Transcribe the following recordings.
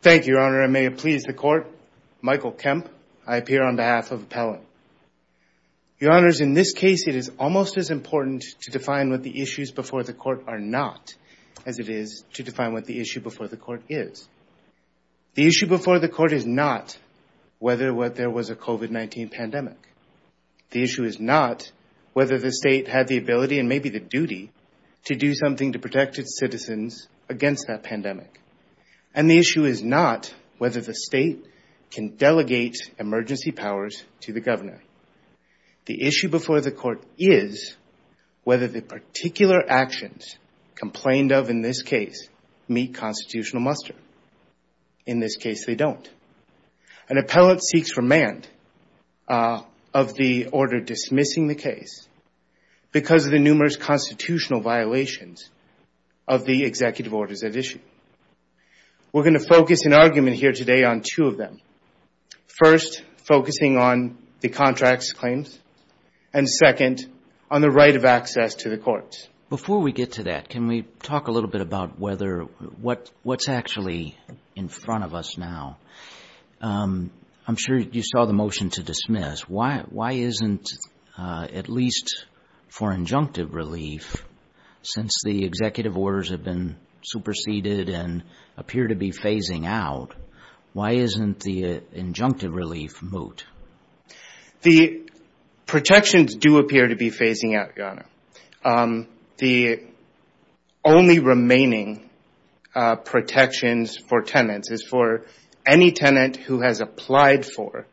Thank you, Your Honor. I may please the Court. Michael Kemp, I appear on behalf of Appellant. Your Honors, in this case, it is almost as important to define what the issues before the Court are not as it is to define what the issue before the Court is. The issue before the Court is not whether or what there was a COVID-19 pandemic. The issue is not whether the state had the ability and maybe the duty to do something to protect its citizens against that pandemic. And the issue is not whether the state can delegate emergency powers to the governor. The issue before the Court is whether the particular actions complained of in this case meet constitutional muster. In this case, they don't. An appellant seeks remand of the order dismissing the case because of the numerous constitutional violations of the executive orders at issue. We're going to focus an argument here today on two of them. First, focusing on the contract's claims. And second, on the right of access to the courts. Before we get to that, can we talk a little bit about what's actually in front of us now? I'm sure you saw the motion to dismiss. Why isn't, at least for injunctive relief, since the executive orders have been superseded and appear to be phasing out, why isn't the injunctive relief moot? The protections do appear to be phasing out, Your Honor. The only remaining protections for tenants is for any tenant who has applied for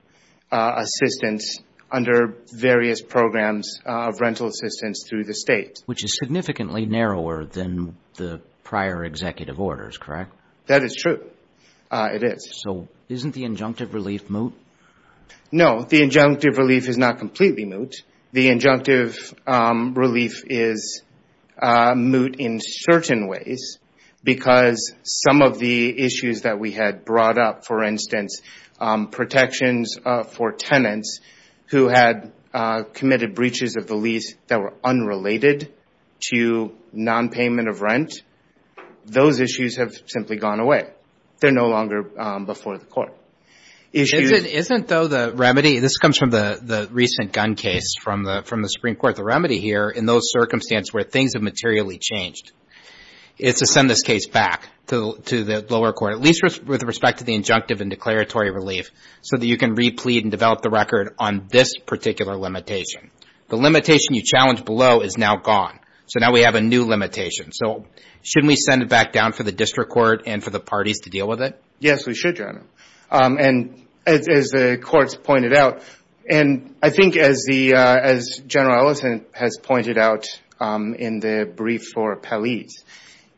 assistance under various programs of rental assistance through the state. Which is significantly narrower than the prior executive orders, correct? That is true. It is. So isn't the injunctive relief moot? No, the injunctive relief is not completely moot. The injunctive relief is moot in certain ways because some of the issues that we had brought up, for instance, protections for the lease that were unrelated to non-payment of rent, those issues have simply gone away. They're no longer before the court. Isn't though the remedy, this comes from the recent gun case from the Supreme Court, the remedy here in those circumstances where things have materially changed, is to send this case back to the lower court, at least with respect to the injunctive and declaratory relief, so that you can replete and develop the record on this particular limitation. The limitation you challenged below is now gone. So now we have a new limitation. So shouldn't we send it back down for the district court and for the parties to deal with it? Yes, we should, John. And as the courts pointed out, and I think as General Ellison has pointed out in the brief for Pelley's,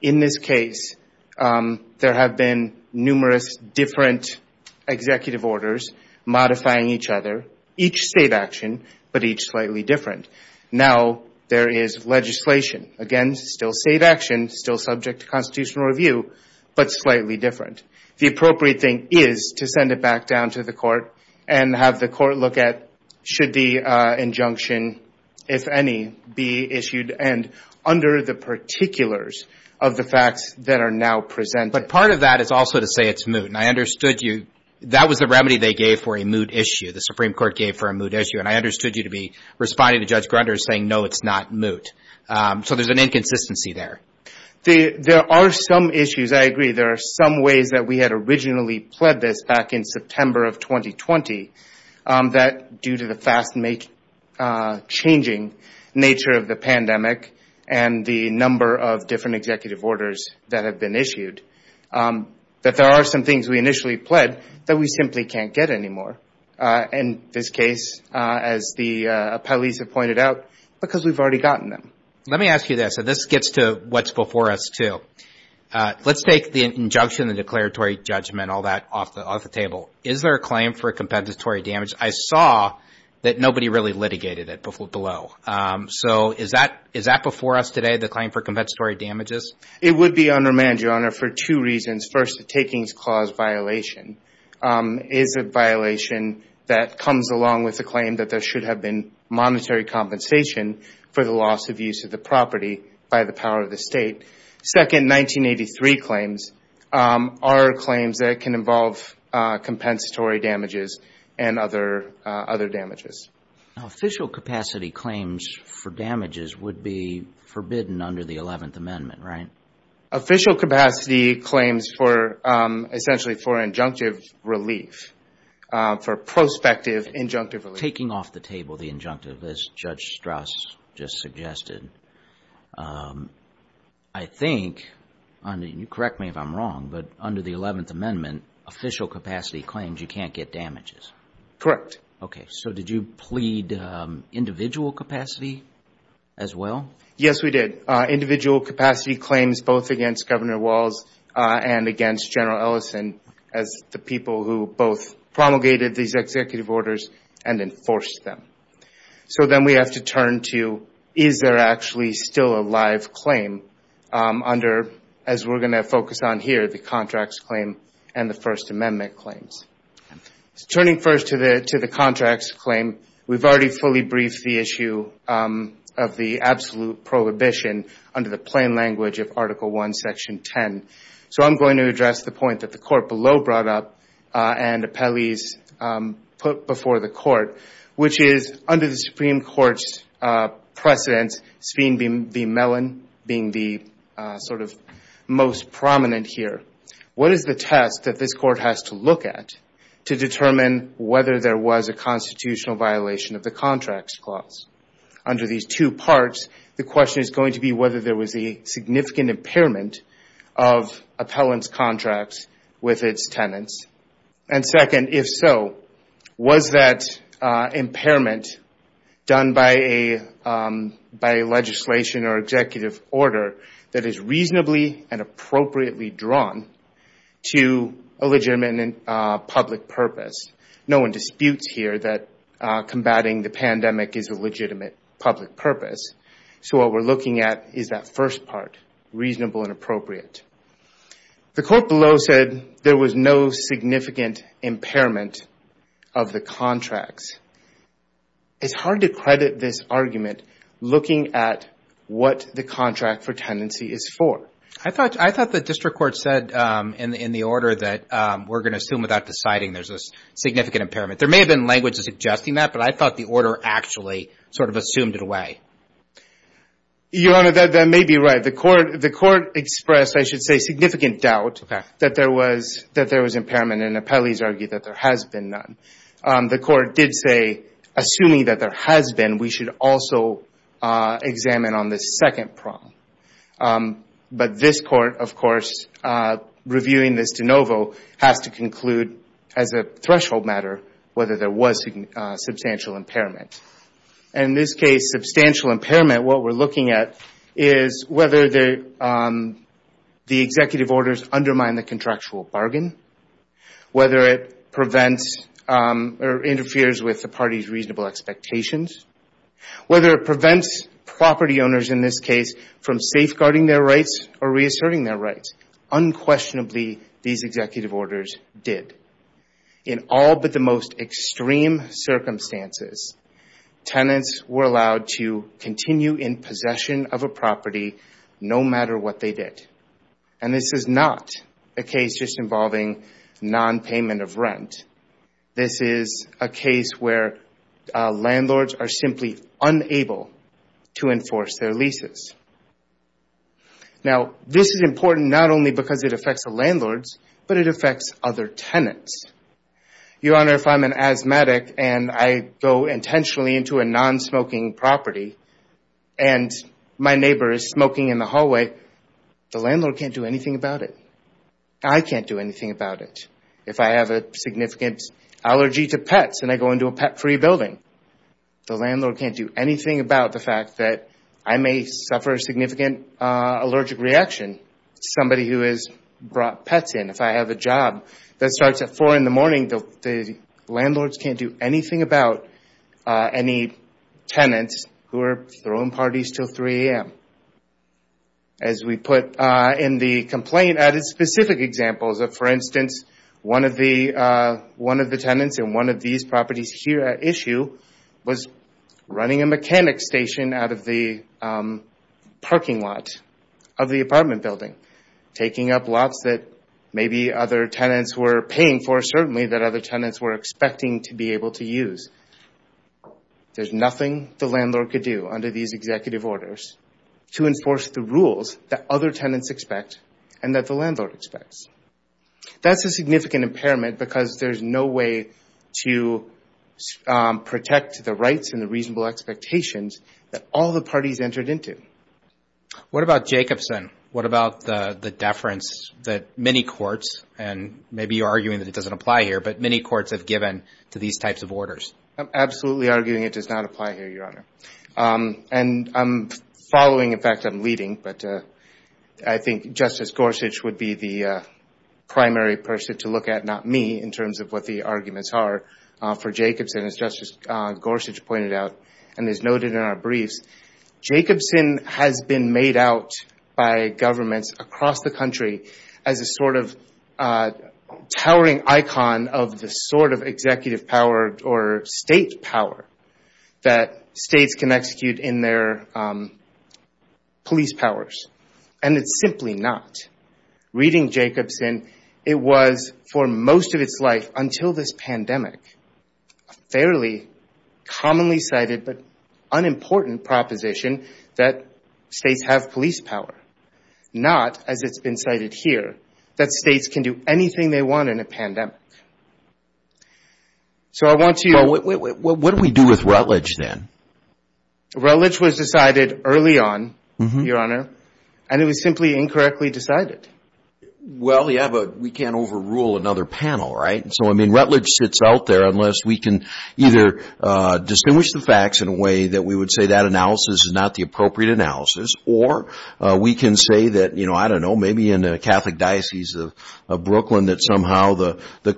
in this case, there have been numerous different executive orders modifying each other, each state action, but each slightly different. Now there is legislation, again, still state action, still subject to constitutional review, but slightly different. The appropriate thing is to send it back down to the court and have the court look at, should the injunction, if any, be issued and under the particulars of the facts that are now presented. But part of that is also to say it's moot. And I understood you, that was the remedy they gave for a moot issue, the Supreme Court gave for a moot issue. And I understood you to be responding to Judge Grunder saying, no, it's not moot. So there's an inconsistency there. There are some issues, I agree, there are some ways that we had originally pled this back in September of 2020, that due to the fast-changing nature of the pandemic and the pandemic, that there are some things we initially pled that we simply can't get anymore, in this case, as the Pelley's have pointed out, because we've already gotten them. Let me ask you this, and this gets to what's before us, too. Let's take the injunction, the declaratory judgment, all that off the table. Is there a claim for compensatory damage? I saw that nobody really litigated it below. So is that before us today, the claim for compensatory damages? It would be undermanned, Your Honor, for two reasons. First, the takings clause violation is a violation that comes along with the claim that there should have been monetary compensation for the loss of use of the property by the power of the State. Second, 1983 claims are claims that can involve compensatory damages and other damages. Now, official capacity claims for damages would be forbidden under the 11th Amendment, right? Official capacity claims for, essentially, for injunctive relief, for prospective injunctive relief. Taking off the table the injunctive, as Judge Strauss just suggested, I think, and you correct me if I'm wrong, but under the 11th Amendment, official capacity claims, you can't get damages. Correct. Okay. So did you plead individual capacity as well? Yes, we did. Individual capacity claims both against Governor Walz and against General Ellison as the people who both promulgated these executive orders and enforced them. So then we have to turn to, is there actually still a live claim under, as we're going to focus on here, the contracts claim and the First Amendment claims? Turning first to the contracts claim, we've already fully briefed the issue of the absolute prohibition under the plain language of Article I, Section 10. So I'm going to address the point that the Court below brought up and appellees put before the Court, which is under the Supreme Court's precedence, Spine B. Mellon being the sort of most prominent here. What is the test that this Court has to look at to determine whether there was a constitutional violation of the contracts clause? Under these two parts, the question is going to be whether there was a significant impairment of appellant's contracts with its tenants. And second, if so, was that impairment done by a legislation or executive order that is reasonably and appropriate to a legitimate and public purpose? No one disputes here that combating the pandemic is a legitimate public purpose. So what we're looking at is that first part, reasonable and appropriate. The Court below said there was no significant impairment of the contracts. It's hard to credit this argument looking at what the contract for tenancy is for. I thought the District Court said in the order that we're going to assume without deciding there's a significant impairment. There may have been language suggesting that, but I thought the order actually sort of assumed it away. Your Honor, that may be right. The Court expressed, I should say, significant doubt that there was impairment and appellees argued that there has been none. The Court did say, assuming that there has been, we should also examine on this second prong. But this Court, of course, reviewing this de novo, has to conclude as a threshold matter whether there was substantial impairment. In this case, substantial impairment, what we're looking at is whether the executive orders undermine the contractual bargain, whether it prevents or interferes with the contractual expectations, whether it prevents property owners, in this case, from safeguarding their rights or reasserting their rights. Unquestionably, these executive orders did. In all but the most extreme circumstances, tenants were allowed to continue in possession of a property no matter what they did. This is not a case just involving non-payment of rent. Landlords are simply unable to enforce their leases. Now, this is important not only because it affects the landlords, but it affects other tenants. Your Honor, if I'm an asthmatic and I go intentionally into a non-smoking property and my neighbor is smoking in the hallway, the landlord can't do anything about it. I can't do anything about it. If I have a significant allergy to pets and I go into a pet-free building, the landlord can't do anything about the fact that I may suffer a significant allergic reaction to somebody who has brought pets in. If I have a job that starts at 4 in the morning, the landlords can't do anything about any tenants who are throwing parties until 3 a.m. As we put in the complaint, added specific examples of, for instance, one of the tenants in one of these properties here at issue was running a mechanic's station out of the parking lot of the apartment building, taking up lots that maybe other tenants were paying for certainly that other tenants were expecting to be able to use. There's nothing the landlord could do under these executive orders to enforce the rules that other tenants expect and that the landlord expects. That's a significant impairment because there's no way to protect the rights and the reasonable expectations that all the parties entered into. What about Jacobson? What about the deference that many courts, and maybe you're arguing that it doesn't apply here, but many courts have given to these types of orders? I'm absolutely arguing it does not apply here, Your Honor. I'm following, in fact, I'm leading, but I think Justice Gorsuch would be the primary person to look at, not me, in terms of what the arguments are for Jacobson. As Justice Gorsuch pointed out and is noted in our briefs, Jacobson has been made out by governments across the country as a sort of towering icon of the sort of executive power or state power that states can execute in their police power and it's simply not. Reading Jacobson, it was for most of its life until this pandemic, a fairly commonly cited but unimportant proposition that states have police power, not, as it's been cited here, that states can do anything they want in a pandemic. What do we do with Rutledge then? Rutledge was decided early on, Your Honor, and it was simply incorrectly decided. Well, yeah, but we can't overrule another panel, right? So, I mean, Rutledge sits out there unless we can either distinguish the facts in a way that we would say that analysis is not the appropriate analysis or we can say that, I don't know, maybe in the Catholic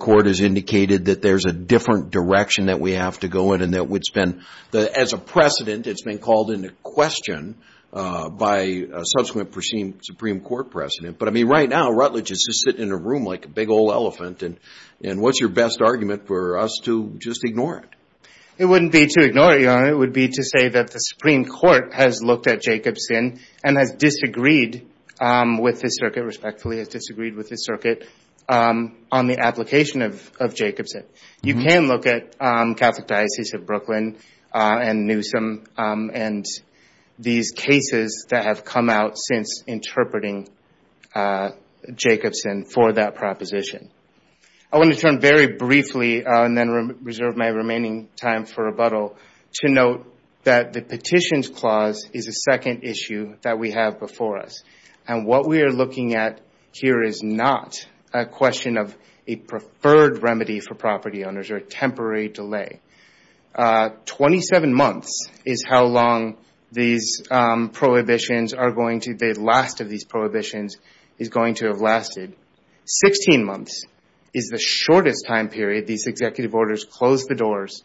Lord has indicated that there's a different direction that we have to go in and that it's been, as a precedent, it's been called into question by a subsequent perceived Supreme Court precedent. But, I mean, right now, Rutledge is just sitting in a room like a big old elephant and what's your best argument for us to just ignore it? It wouldn't be to ignore it, Your Honor. It would be to say that the Supreme Court has looked at Jacobson and has disagreed with his circuit, respectfully has disagreed with his circuit on the application of Jacobson. You can look at Catholic Diocese of Brooklyn and Newsom and these cases that have come out since interpreting Jacobson for that proposition. I want to turn very briefly and then reserve my remaining time for rebuttal to note that the Petitions Clause is a second issue that we have before us. And what we are looking at here is not a question of a preferred remedy for property owners or a temporary delay. Twenty-seven months is how long these prohibitions are going to, the last of these prohibitions is going to have lasted. Sixteen months is the shortest time period these executive orders close the doors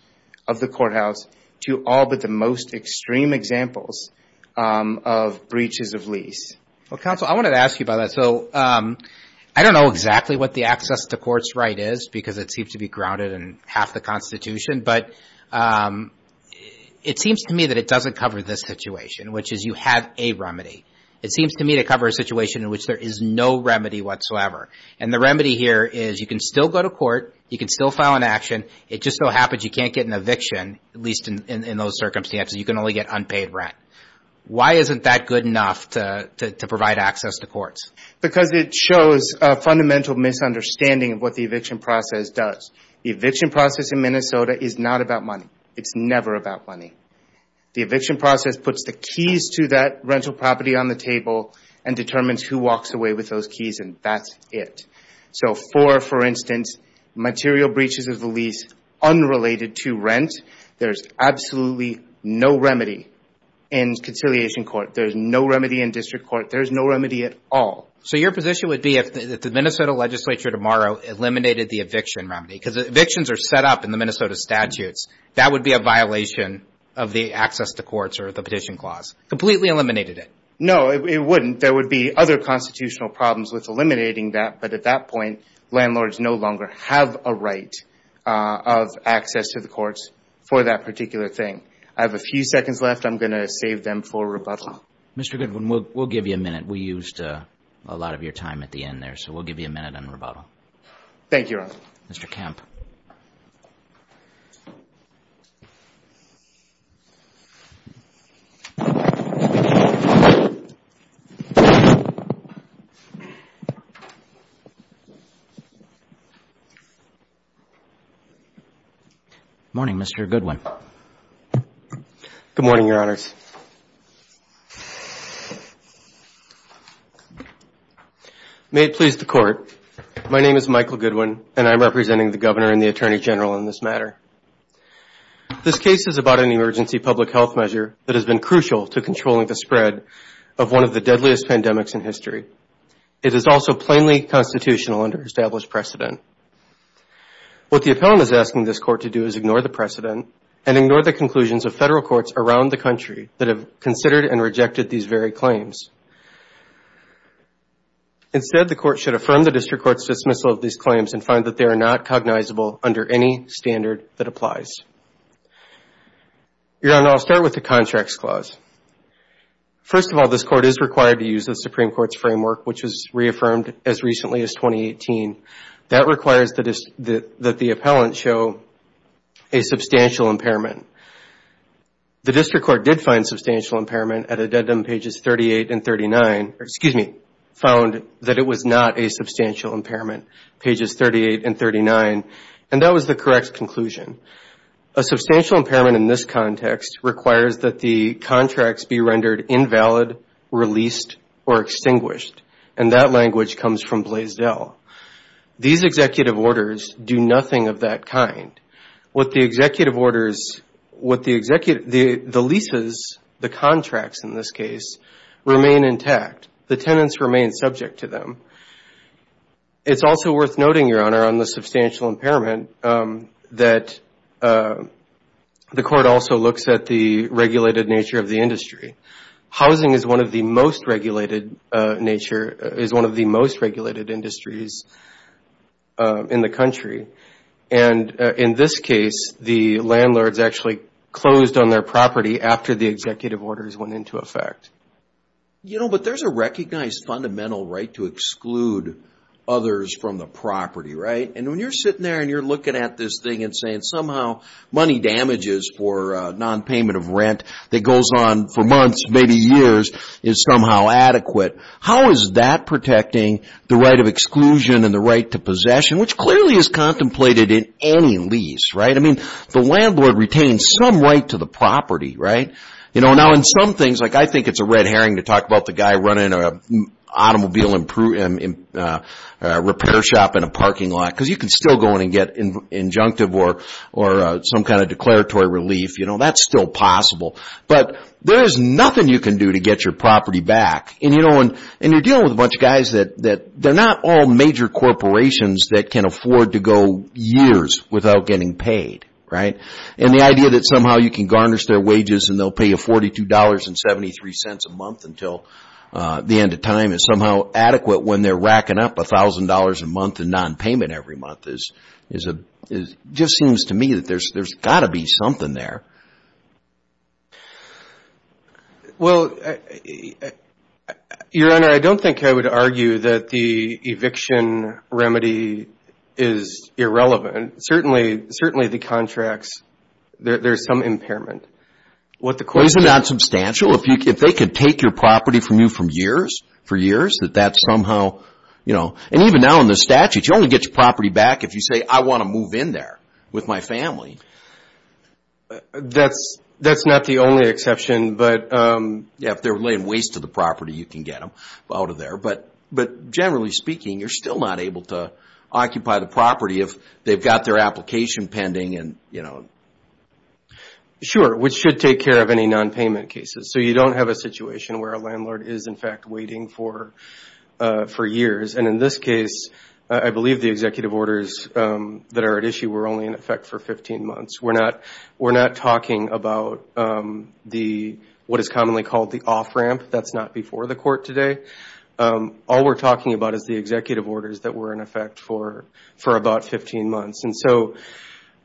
of the courthouse to all but the most extreme examples of breaches of lease. Well, Counsel, I wanted to ask you about that. So I don't know exactly what the access to court's right is because it seems to be grounded in half the Constitution. But it seems to me that it doesn't cover this situation, which is you have a remedy. It seems to me to cover a situation in which there is no remedy whatsoever. And the remedy here is you can still go to court, you can still file an action, it just so happens you can't get an eviction, at least in those circumstances, you can only get unpaid rent. Why isn't that good enough to provide access to courts? Because it shows a fundamental misunderstanding of what the eviction process does. The eviction process in Minnesota is not about money. It's never about money. The eviction process puts the keys to that rental property on the table and determines who walks away with those keys and that's it. So for, for instance, material breaches of the lease unrelated to rent, there's absolutely no remedy in conciliation court. There's no remedy in district court. There's no remedy at all. So your position would be if the Minnesota legislature tomorrow eliminated the eviction remedy, because evictions are set up in the Minnesota statutes, that would be a violation of the access to courts or the petition clause. Completely eliminated it. No, it wouldn't. There would be other constitutional problems with eliminating that, but at that Mr. Goodwin, we'll give you a minute. We used a lot of your time at the end there, so we'll give you a minute on rebuttal. Thank you, Your Honor. Mr. Kemp. Morning, Mr. Goodwin. Good morning, Your Honors. May it please the court, my name is Michael Goodwin and I'm representing the Governor and the Attorney General in this matter. This case is about an emergency public health measure that has been crucial to controlling the spread of one of the deadliest pandemics in history. It is also plainly constitutional under established precedent. What the appellant is asking this court to do is ignore the precedent and ignore the conclusions of federal courts around the country that have considered and rejected these very claims. Instead, the court should affirm the district court's dismissal of these claims and find that they are not cognizable under any standard that applies. Your Honor, I'll start with the contracts clause. First of all, this court is required to use the Supreme Court's framework, which was reaffirmed as recently as 2018. That requires that the appellant show a substantial impairment. The district court did find substantial impairment at addendum pages 38 and 39, or excuse me, found that it was not a substantial impairment, pages 38 and 39, and that was the correct conclusion. A substantial impairment in this case is either reduced or extinguished, and that language comes from Blaisdell. These executive orders do nothing of that kind. The leases, the contracts in this case, remain intact. The tenants remain subject to them. It's also worth noting, Your Honor, on the substantial impairment that the court also looks at the regulated nature of the industry. Housing is one of the most regulated industries in the country. In this case, the landlords actually closed on their property after the executive orders went into effect. You know, but there's a recognized fundamental right to exclude others from the property, right? When you're sitting there and you're looking at this thing and saying somehow money damages for non-payment of rent that goes on for months, maybe years, is somehow adequate, how is that protecting the right of exclusion and the right to possession, which clearly is contemplated in any lease, right? I mean, the landlord retains some right to the property, right? You know, now in some things, like I think it's a red herring to talk about the guy running an automobile repair shop in a parking lot, because you can still go in and get injunctive or some kind of declaratory relief, you know, that's still possible. But there's nothing you can do to get your property back. And you're dealing with a bunch of guys that they're not all major corporations that can afford to go years without getting paid, right? And the idea that somehow you can garnish their wages and they'll pay you $42.73 a month until the end of time is somehow adequate when they're racking up $1,000 a month in this case. It just seems to me that there's got to be something there. Well, Your Honor, I don't think I would argue that the eviction remedy is irrelevant. Certainly, the contracts, there's some impairment. Isn't that substantial? If they could take your property from you for years, that that somehow, you know, and even now in the statute, you only get your property back if you say, I want to move in there with my family. That's not the only exception, but if they're laying waste to the property, you can get them out of there. But generally speaking, you're still not able to occupy the property if they've got their application pending and, you know. Sure, which should take care of any nonpayment cases. So you don't have a situation where a landlord is in fact waiting for years. And in this case, I believe the executive order that are at issue were only in effect for 15 months. We're not talking about what is commonly called the off-ramp. That's not before the court today. All we're talking about is the executive orders that were in effect for about 15 months. And so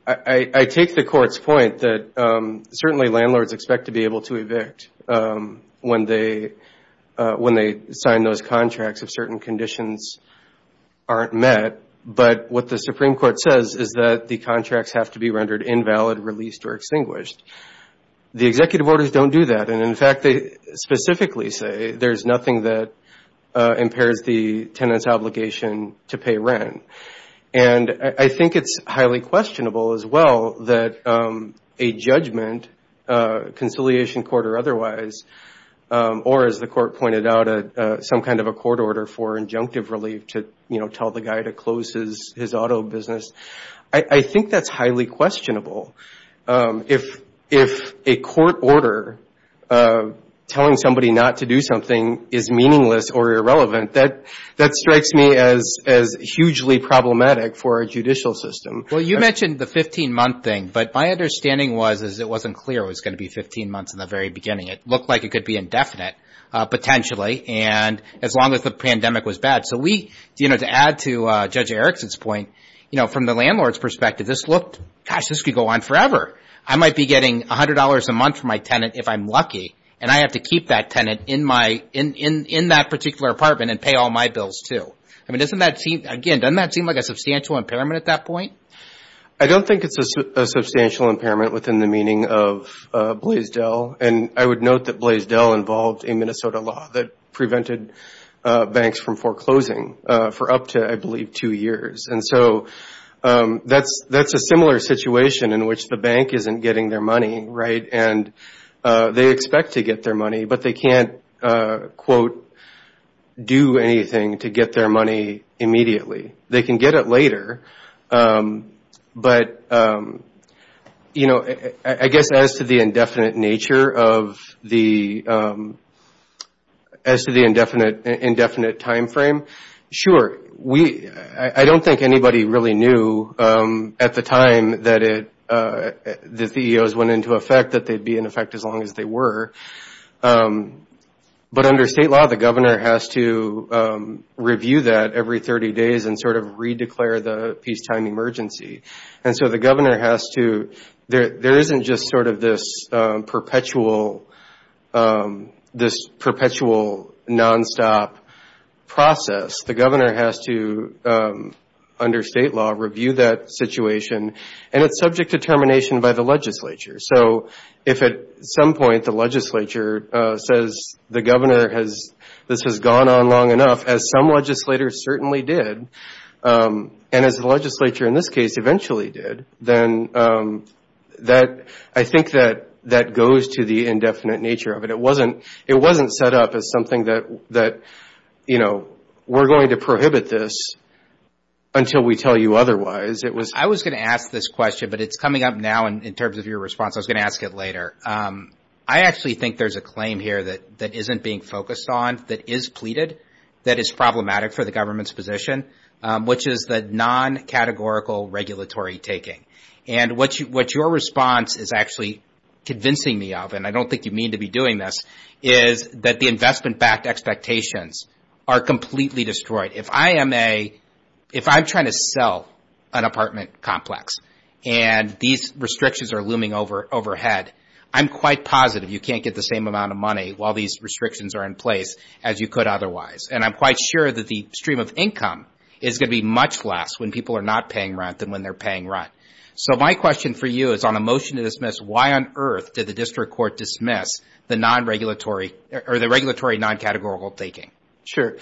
I take the court's point that certainly landlords expect to be able to evict when they, when they sign those contracts if certain conditions aren't met. But what the Supreme Court says is that the contracts have to be rendered invalid, released, or extinguished. The executive orders don't do that. And in fact, they specifically say there's nothing that impairs the tenant's obligation to pay rent. And I think it's highly questionable as well that a judgment, conciliation court or otherwise, or as the court pointed out, some kind of a court order for injunctive relief to, you know, tell the guy to close his auto business. I think that's highly questionable. If a court order telling somebody not to do something is meaningless or irrelevant, that strikes me as hugely problematic for our judicial system. Well, you mentioned the 15-month thing. But my understanding was it wasn't clear it was going to be indefinite, potentially, and as long as the pandemic was bad. So we, you know, to add to Judge Erickson's point, you know, from the landlord's perspective, this looked, gosh, this could go on forever. I might be getting $100 a month from my tenant if I'm lucky, and I have to keep that tenant in my, in that particular apartment and pay all my bills too. I mean, doesn't that seem, again, doesn't that seem like a substantial impairment at that point? I don't think it's a substantial impairment within the meaning of Blaisdell. And I would note that Blaisdell involved a Minnesota law that prevented banks from foreclosing for up to, I believe, two years. And so that's a similar situation in which the bank isn't getting their money, right? And they expect to get their money, but they can't, quote, do anything to get their money immediately. They can get it later. But, you know, I guess as to the indefinite nature of the, as to the indefinite timeframe, sure, we, I don't think anybody really knew at the time that it, that the EOs went into effect that they'd be in effect as long as they were. But under state law, the governor has to review that every 30 days and sort of re-declare the peacetime emergency. And so the governor has to, there isn't just sort of this perpetual, this perpetual nonstop process. The governor has to, under state law, review that situation. And it's subject to termination by the legislature. So if at some point the legislature says the governor has, this has gone on long enough, as some legislators certainly did, and as the legislature in this case eventually did, then that, I think that that goes to the indefinite nature of it. It wasn't, it wasn't set up as something that, that, you know, we're going to prohibit this until we tell you otherwise. It was... I was going to ask this question, but it's coming up now in terms of your response. I was going to ask it later. I actually think there's a claim here that isn't being focused on, that is pleaded, that is problematic for the government's position, which is the non-categorical regulatory taking. And what you, what your response is actually convincing me of, and I don't think you mean to be doing this, is that the investment-backed expectations are completely destroyed. If I am a, if I'm trying to sell an apartment complex and these restrictions are looming over, overhead, I'm quite positive you can't get the same amount of money while these restrictions are in place as you could otherwise. And I'm quite sure that the stream of income is going to be much less when people are not paying rent than when they're paying rent. So my question for you is, on a motion to dismiss, why on earth did the district court dismiss the non-regulatory, or the regulatory non-categorical taking? Sure.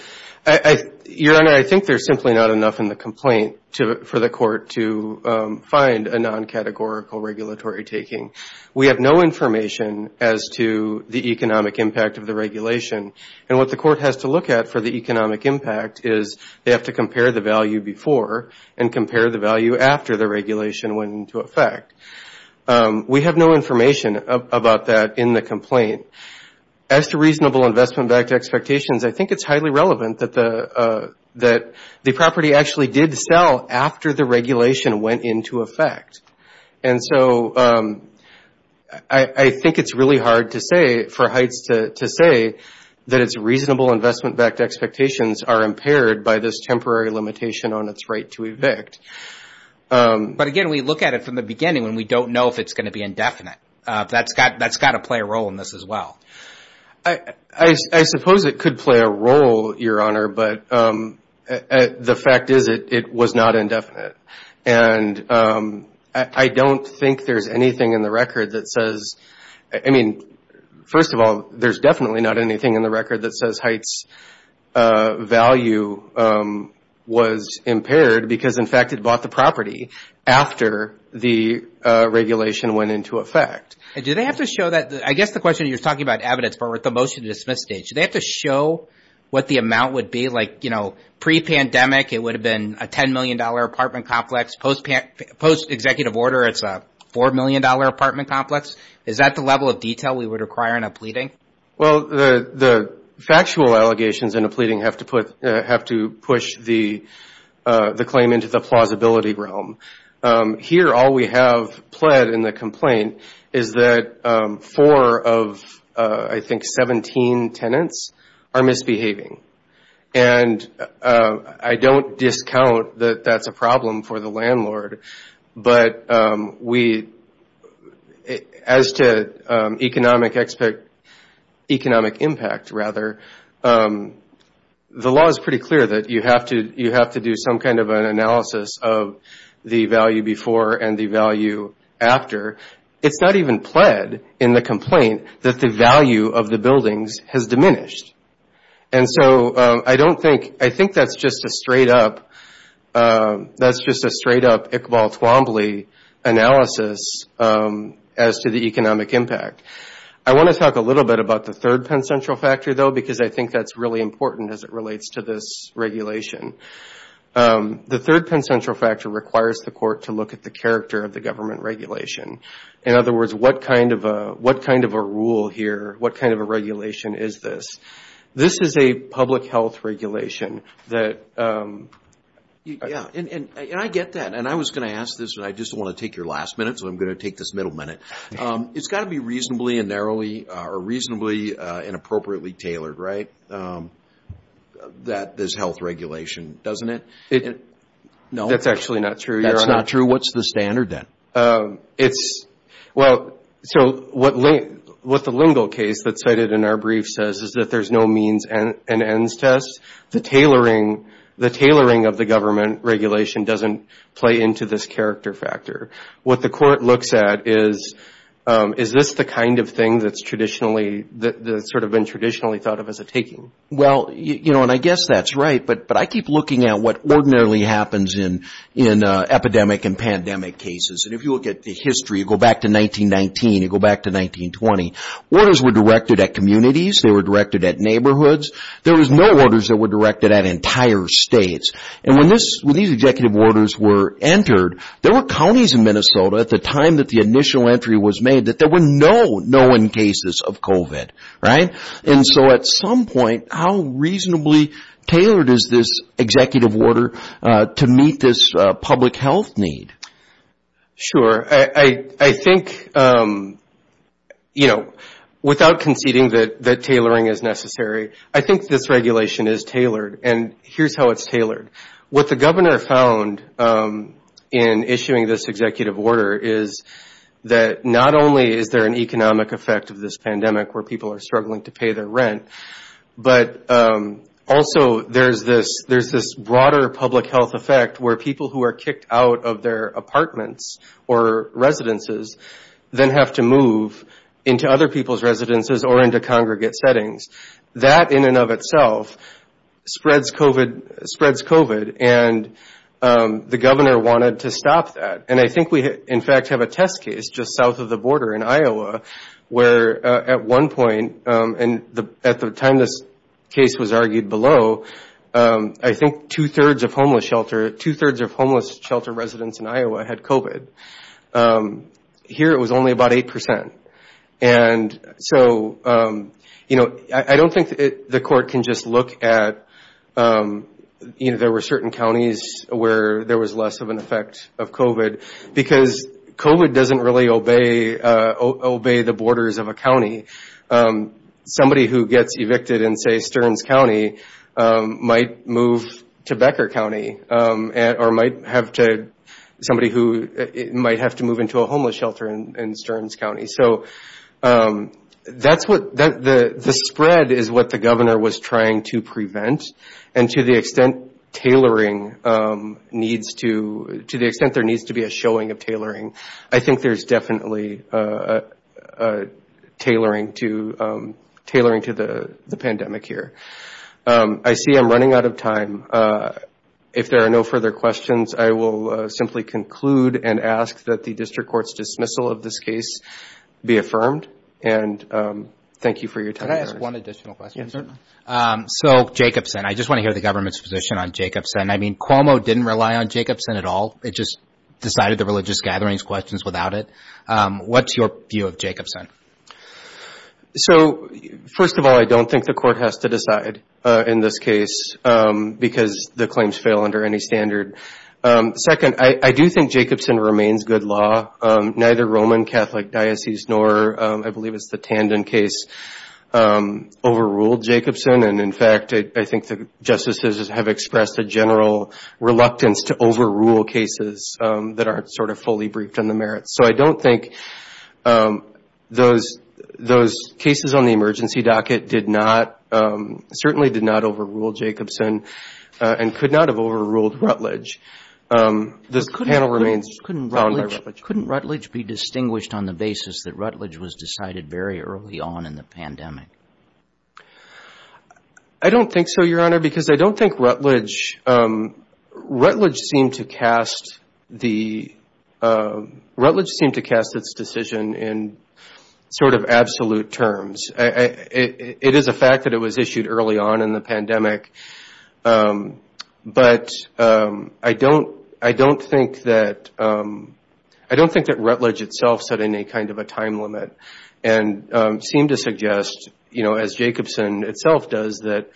Your Honor, I think there's simply not enough in the complaint to, for the court to find a non-categorical regulatory taking. We have no information as to the economic impact of the regulation. And what the court has to look at for the economic impact is they have to compare the value before and compare the value after the regulation went into effect. We have no information about that in the complaint. As to reasonable investment-backed expectations, I think it's highly relevant that the, that the property actually did sell after the regulation went into effect. And so I think it's really hard to say for Heitz to say that it's reasonable investment-backed expectations are impaired by this temporary limitation on its right to evict. But again, we look at it from the beginning when we don't know if it's going to be indefinite. That's got to play a role in this as well. I suppose it could play a role, Your Honor, but the fact is it was not indefinite. And I don't think there's anything in the record that says, I mean, first of all, there's definitely not anything in the record that says Heitz value was impaired because, in fact, it bought the property after the regulation went into effect. Do they have to show that, I guess the question you're talking about evidence for with the motion to dismiss the case, do they have to show what the amount would be? Like, you know, pre-pandemic, it would have been a $10 million apartment complex. Post-executive order, it's a $4 million apartment complex. Is that the level of detail we would require in a pleading? Well, the factual allegations in a pleading have to push the claim into the plausibility realm. Here, all we have pled in the complaint is that four of, I think, 17 tenants are misbehaving. And I don't discount that that's a problem for the landlord, but as to economic impact, the law is pretty clear that you have to do some kind of an analysis of the value before and the value after. It's not even pled in the complaint that the value of the buildings has diminished. And so I don't think, I think that's just a straight-up, that's just a straight-up Iqbal Twombly analysis as to the economic impact. I want to talk a little bit about the third Penn Central Factor, though, because I think that's really important as it relates to this regulation. The third Penn Central Factor requires the court to look at the character of the government regulation. In other words, what kind of a rule here, what kind of a regulation is this? This is a public health regulation that... Yeah, and I get that. And I was going to ask this, but I just want to take your last minute, so I'm going to take this middle minute. It's got to be reasonably and narrowly, or reasonably and appropriately tailored, right, that this health regulation, doesn't it? That's actually not true, Your Honor. That's not true? What's the standard then? It's, well, so what the Lingle case that's cited in our brief says is that there's no means and ends test. The tailoring, the tailoring of the government regulation doesn't play into this character factor. What the court looks at is, is this the kind of thing that's traditionally, that's sort of been traditionally thought of as a taking? Well, you know, and I guess that's right, but I keep looking at what ordinarily happens in epidemic and pandemic cases. And if you look at the history, you go back to 1919, you go back to 1920. Orders were directed at communities, they were directed at neighborhoods. There was no orders that were directed at entire states. And when these executive orders were entered, there were counties in Minnesota at the time that the initial entry was made that there were no known cases of COVID, right? And so at some point, how reasonably tailored is this executive order to meet this public health need? Sure. I think, you know, without conceding that tailoring is necessary, I think this regulation is tailored. And here's how it's tailored. What the governor found in issuing this executive order is that not only is there an economic effect of this pandemic where people are struggling to pay their rent, but also there's this broader public health effect where people who are kicked out of their apartments or residences then have to move into other people's residences or into congregate settings. That in and of itself spreads COVID and the governor wanted to stop that. And I think we, in fact, have a test case just south of the border in Iowa where at one point, and at the time this case was argued below, I think two-thirds of homeless shelter, two-thirds of homeless shelter residents in Iowa had COVID. Here it was only about 8%. And so, you know, I don't think the court can just look at, you know, there were certain counties where there was less of an effect of COVID because COVID doesn't really obey the borders of a county. Somebody who gets evicted in, say, Stearns County might move to Becker County or might have to, somebody who might have to move into a homeless shelter in Stearns County. So that's what, the spread is what the governor was trying to prevent. And to the extent tailoring needs to, to the extent there needs to be a showing of tailoring, I think there's definitely a tailoring to, tailoring to the pandemic here. I see I'm running out of time. If there are no further questions, I will simply conclude and ask that the district court's dismissal of this case be affirmed. And thank you for your time. Can I ask one additional question, sir? So Jacobson, I just want to hear the government's position on Jacobson. I mean, Cuomo didn't rely on Jacobson at all. It just decided the religious gatherings questions without it. What's your view of Jacobson? So first of all, I don't think the court has to decide in this case because the claims fail under any standard. Second, I do think Jacobson remains good law. Neither Roman Catholic diocese nor I believe it's the Tandon case overruled Jacobson. And in fact, I think the court has expressed a general reluctance to overrule cases that aren't sort of fully briefed on the merits. So I don't think those, those cases on the emergency docket did not, certainly did not overrule Jacobson and could not have overruled Rutledge. This panel remains found by Rutledge. Couldn't Rutledge be distinguished on the basis that Rutledge was decided very early on in the pandemic? I don't think so, Your Honor, because I don't think Rutledge, Rutledge seemed to cast the, Rutledge seemed to cast its decision in sort of absolute terms. It is a fact that it was issued early on in the pandemic. But I don't, I don't think that, I don't think that Rutledge itself set any kind of a time limit and seemed to suggest, you know, as Jacobson itself does, that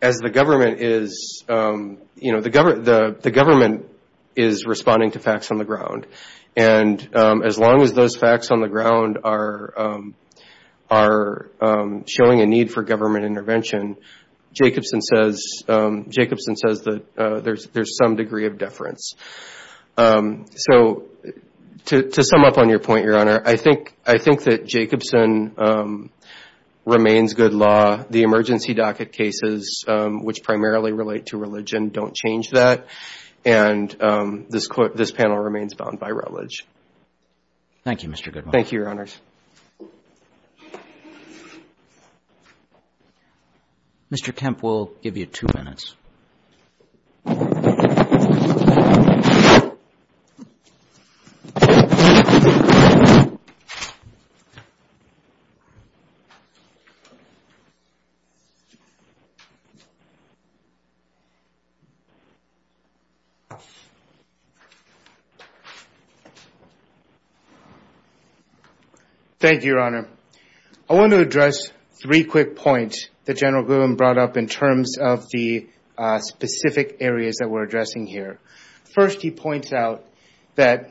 as the government is, you know, the government is responding to facts on the ground. And as long as those facts on the ground are showing a need for government intervention, Jacobson says, Jacobson says that there's some degree of deference. So, to sum up on your point, Your Honor, I think, I think that Jacobson remains good law. The emergency docket cases, which primarily relate to religion, don't change that. And this panel remains bound by Rutledge. Thank you, Mr. Goodwin. Thank you, Your Honors. Mr. Kemp, we'll give you two minutes. Thank you, Your Honor. I want to address three quick points that General Goodwin brought up in terms of the specific areas that we're addressing here. First, he points out that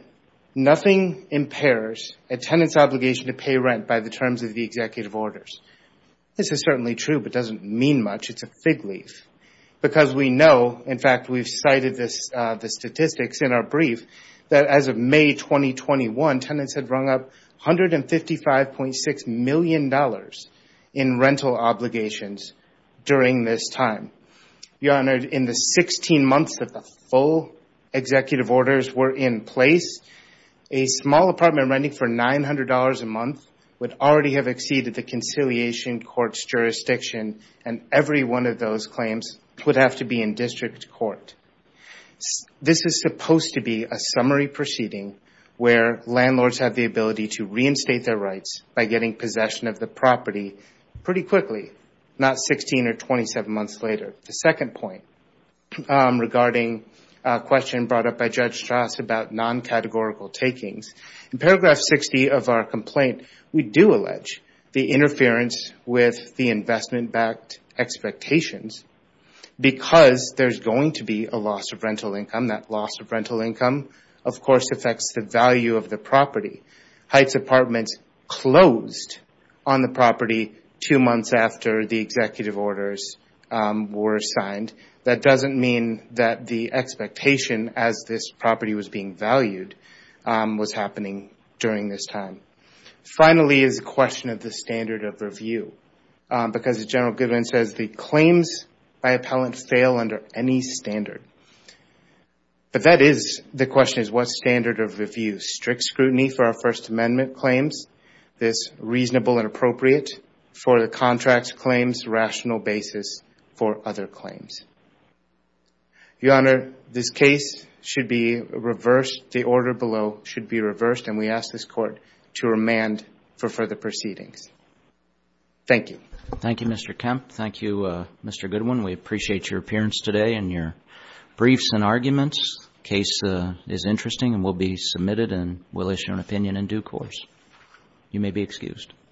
nothing impairs a tenant's obligation to pay rent by the terms of the executive orders. This is certainly true, but doesn't mean much. It's a fig leaf. Because we know, in fact, we've cited this, the statistics in our brief, that as of May 2021, tenants had rung up $150,000 to $55.6 million in rental obligations during this time. Your Honor, in the 16 months that the full executive orders were in place, a small apartment renting for $900 a month would already have exceeded the conciliation court's jurisdiction, and every one of those claims would have to be in district court. This is supposed to be a summary proceeding where landlords have the ability to reinstate their rights by getting possession of the property pretty quickly, not 16 or 27 months later. The second point regarding a question brought up by Judge Strauss about non-categorical takings. In paragraph 60 of our complaint, we do allege the interference with the investment backed expectations because there's going to be a loss of rental income. That loss of interest closed on the property two months after the executive orders were signed. That doesn't mean that the expectation as this property was being valued was happening during this time. Finally, is a question of the standard of review. Because as General Goodwin says, the claims by appellant fail under any standard. The question is what standard of review? Strict is reasonable and appropriate for the contract's claims, rational basis for other claims. Your Honor, this case should be reversed. The order below should be reversed, and we ask this Court to remand for further proceedings. Thank you. Thank you, Mr. Kemp. Thank you, Mr. Goodwin. We appreciate your appearance today and your briefs and arguments. Case is interesting and will be submitted and will issue an opinion in due course. You may be excused.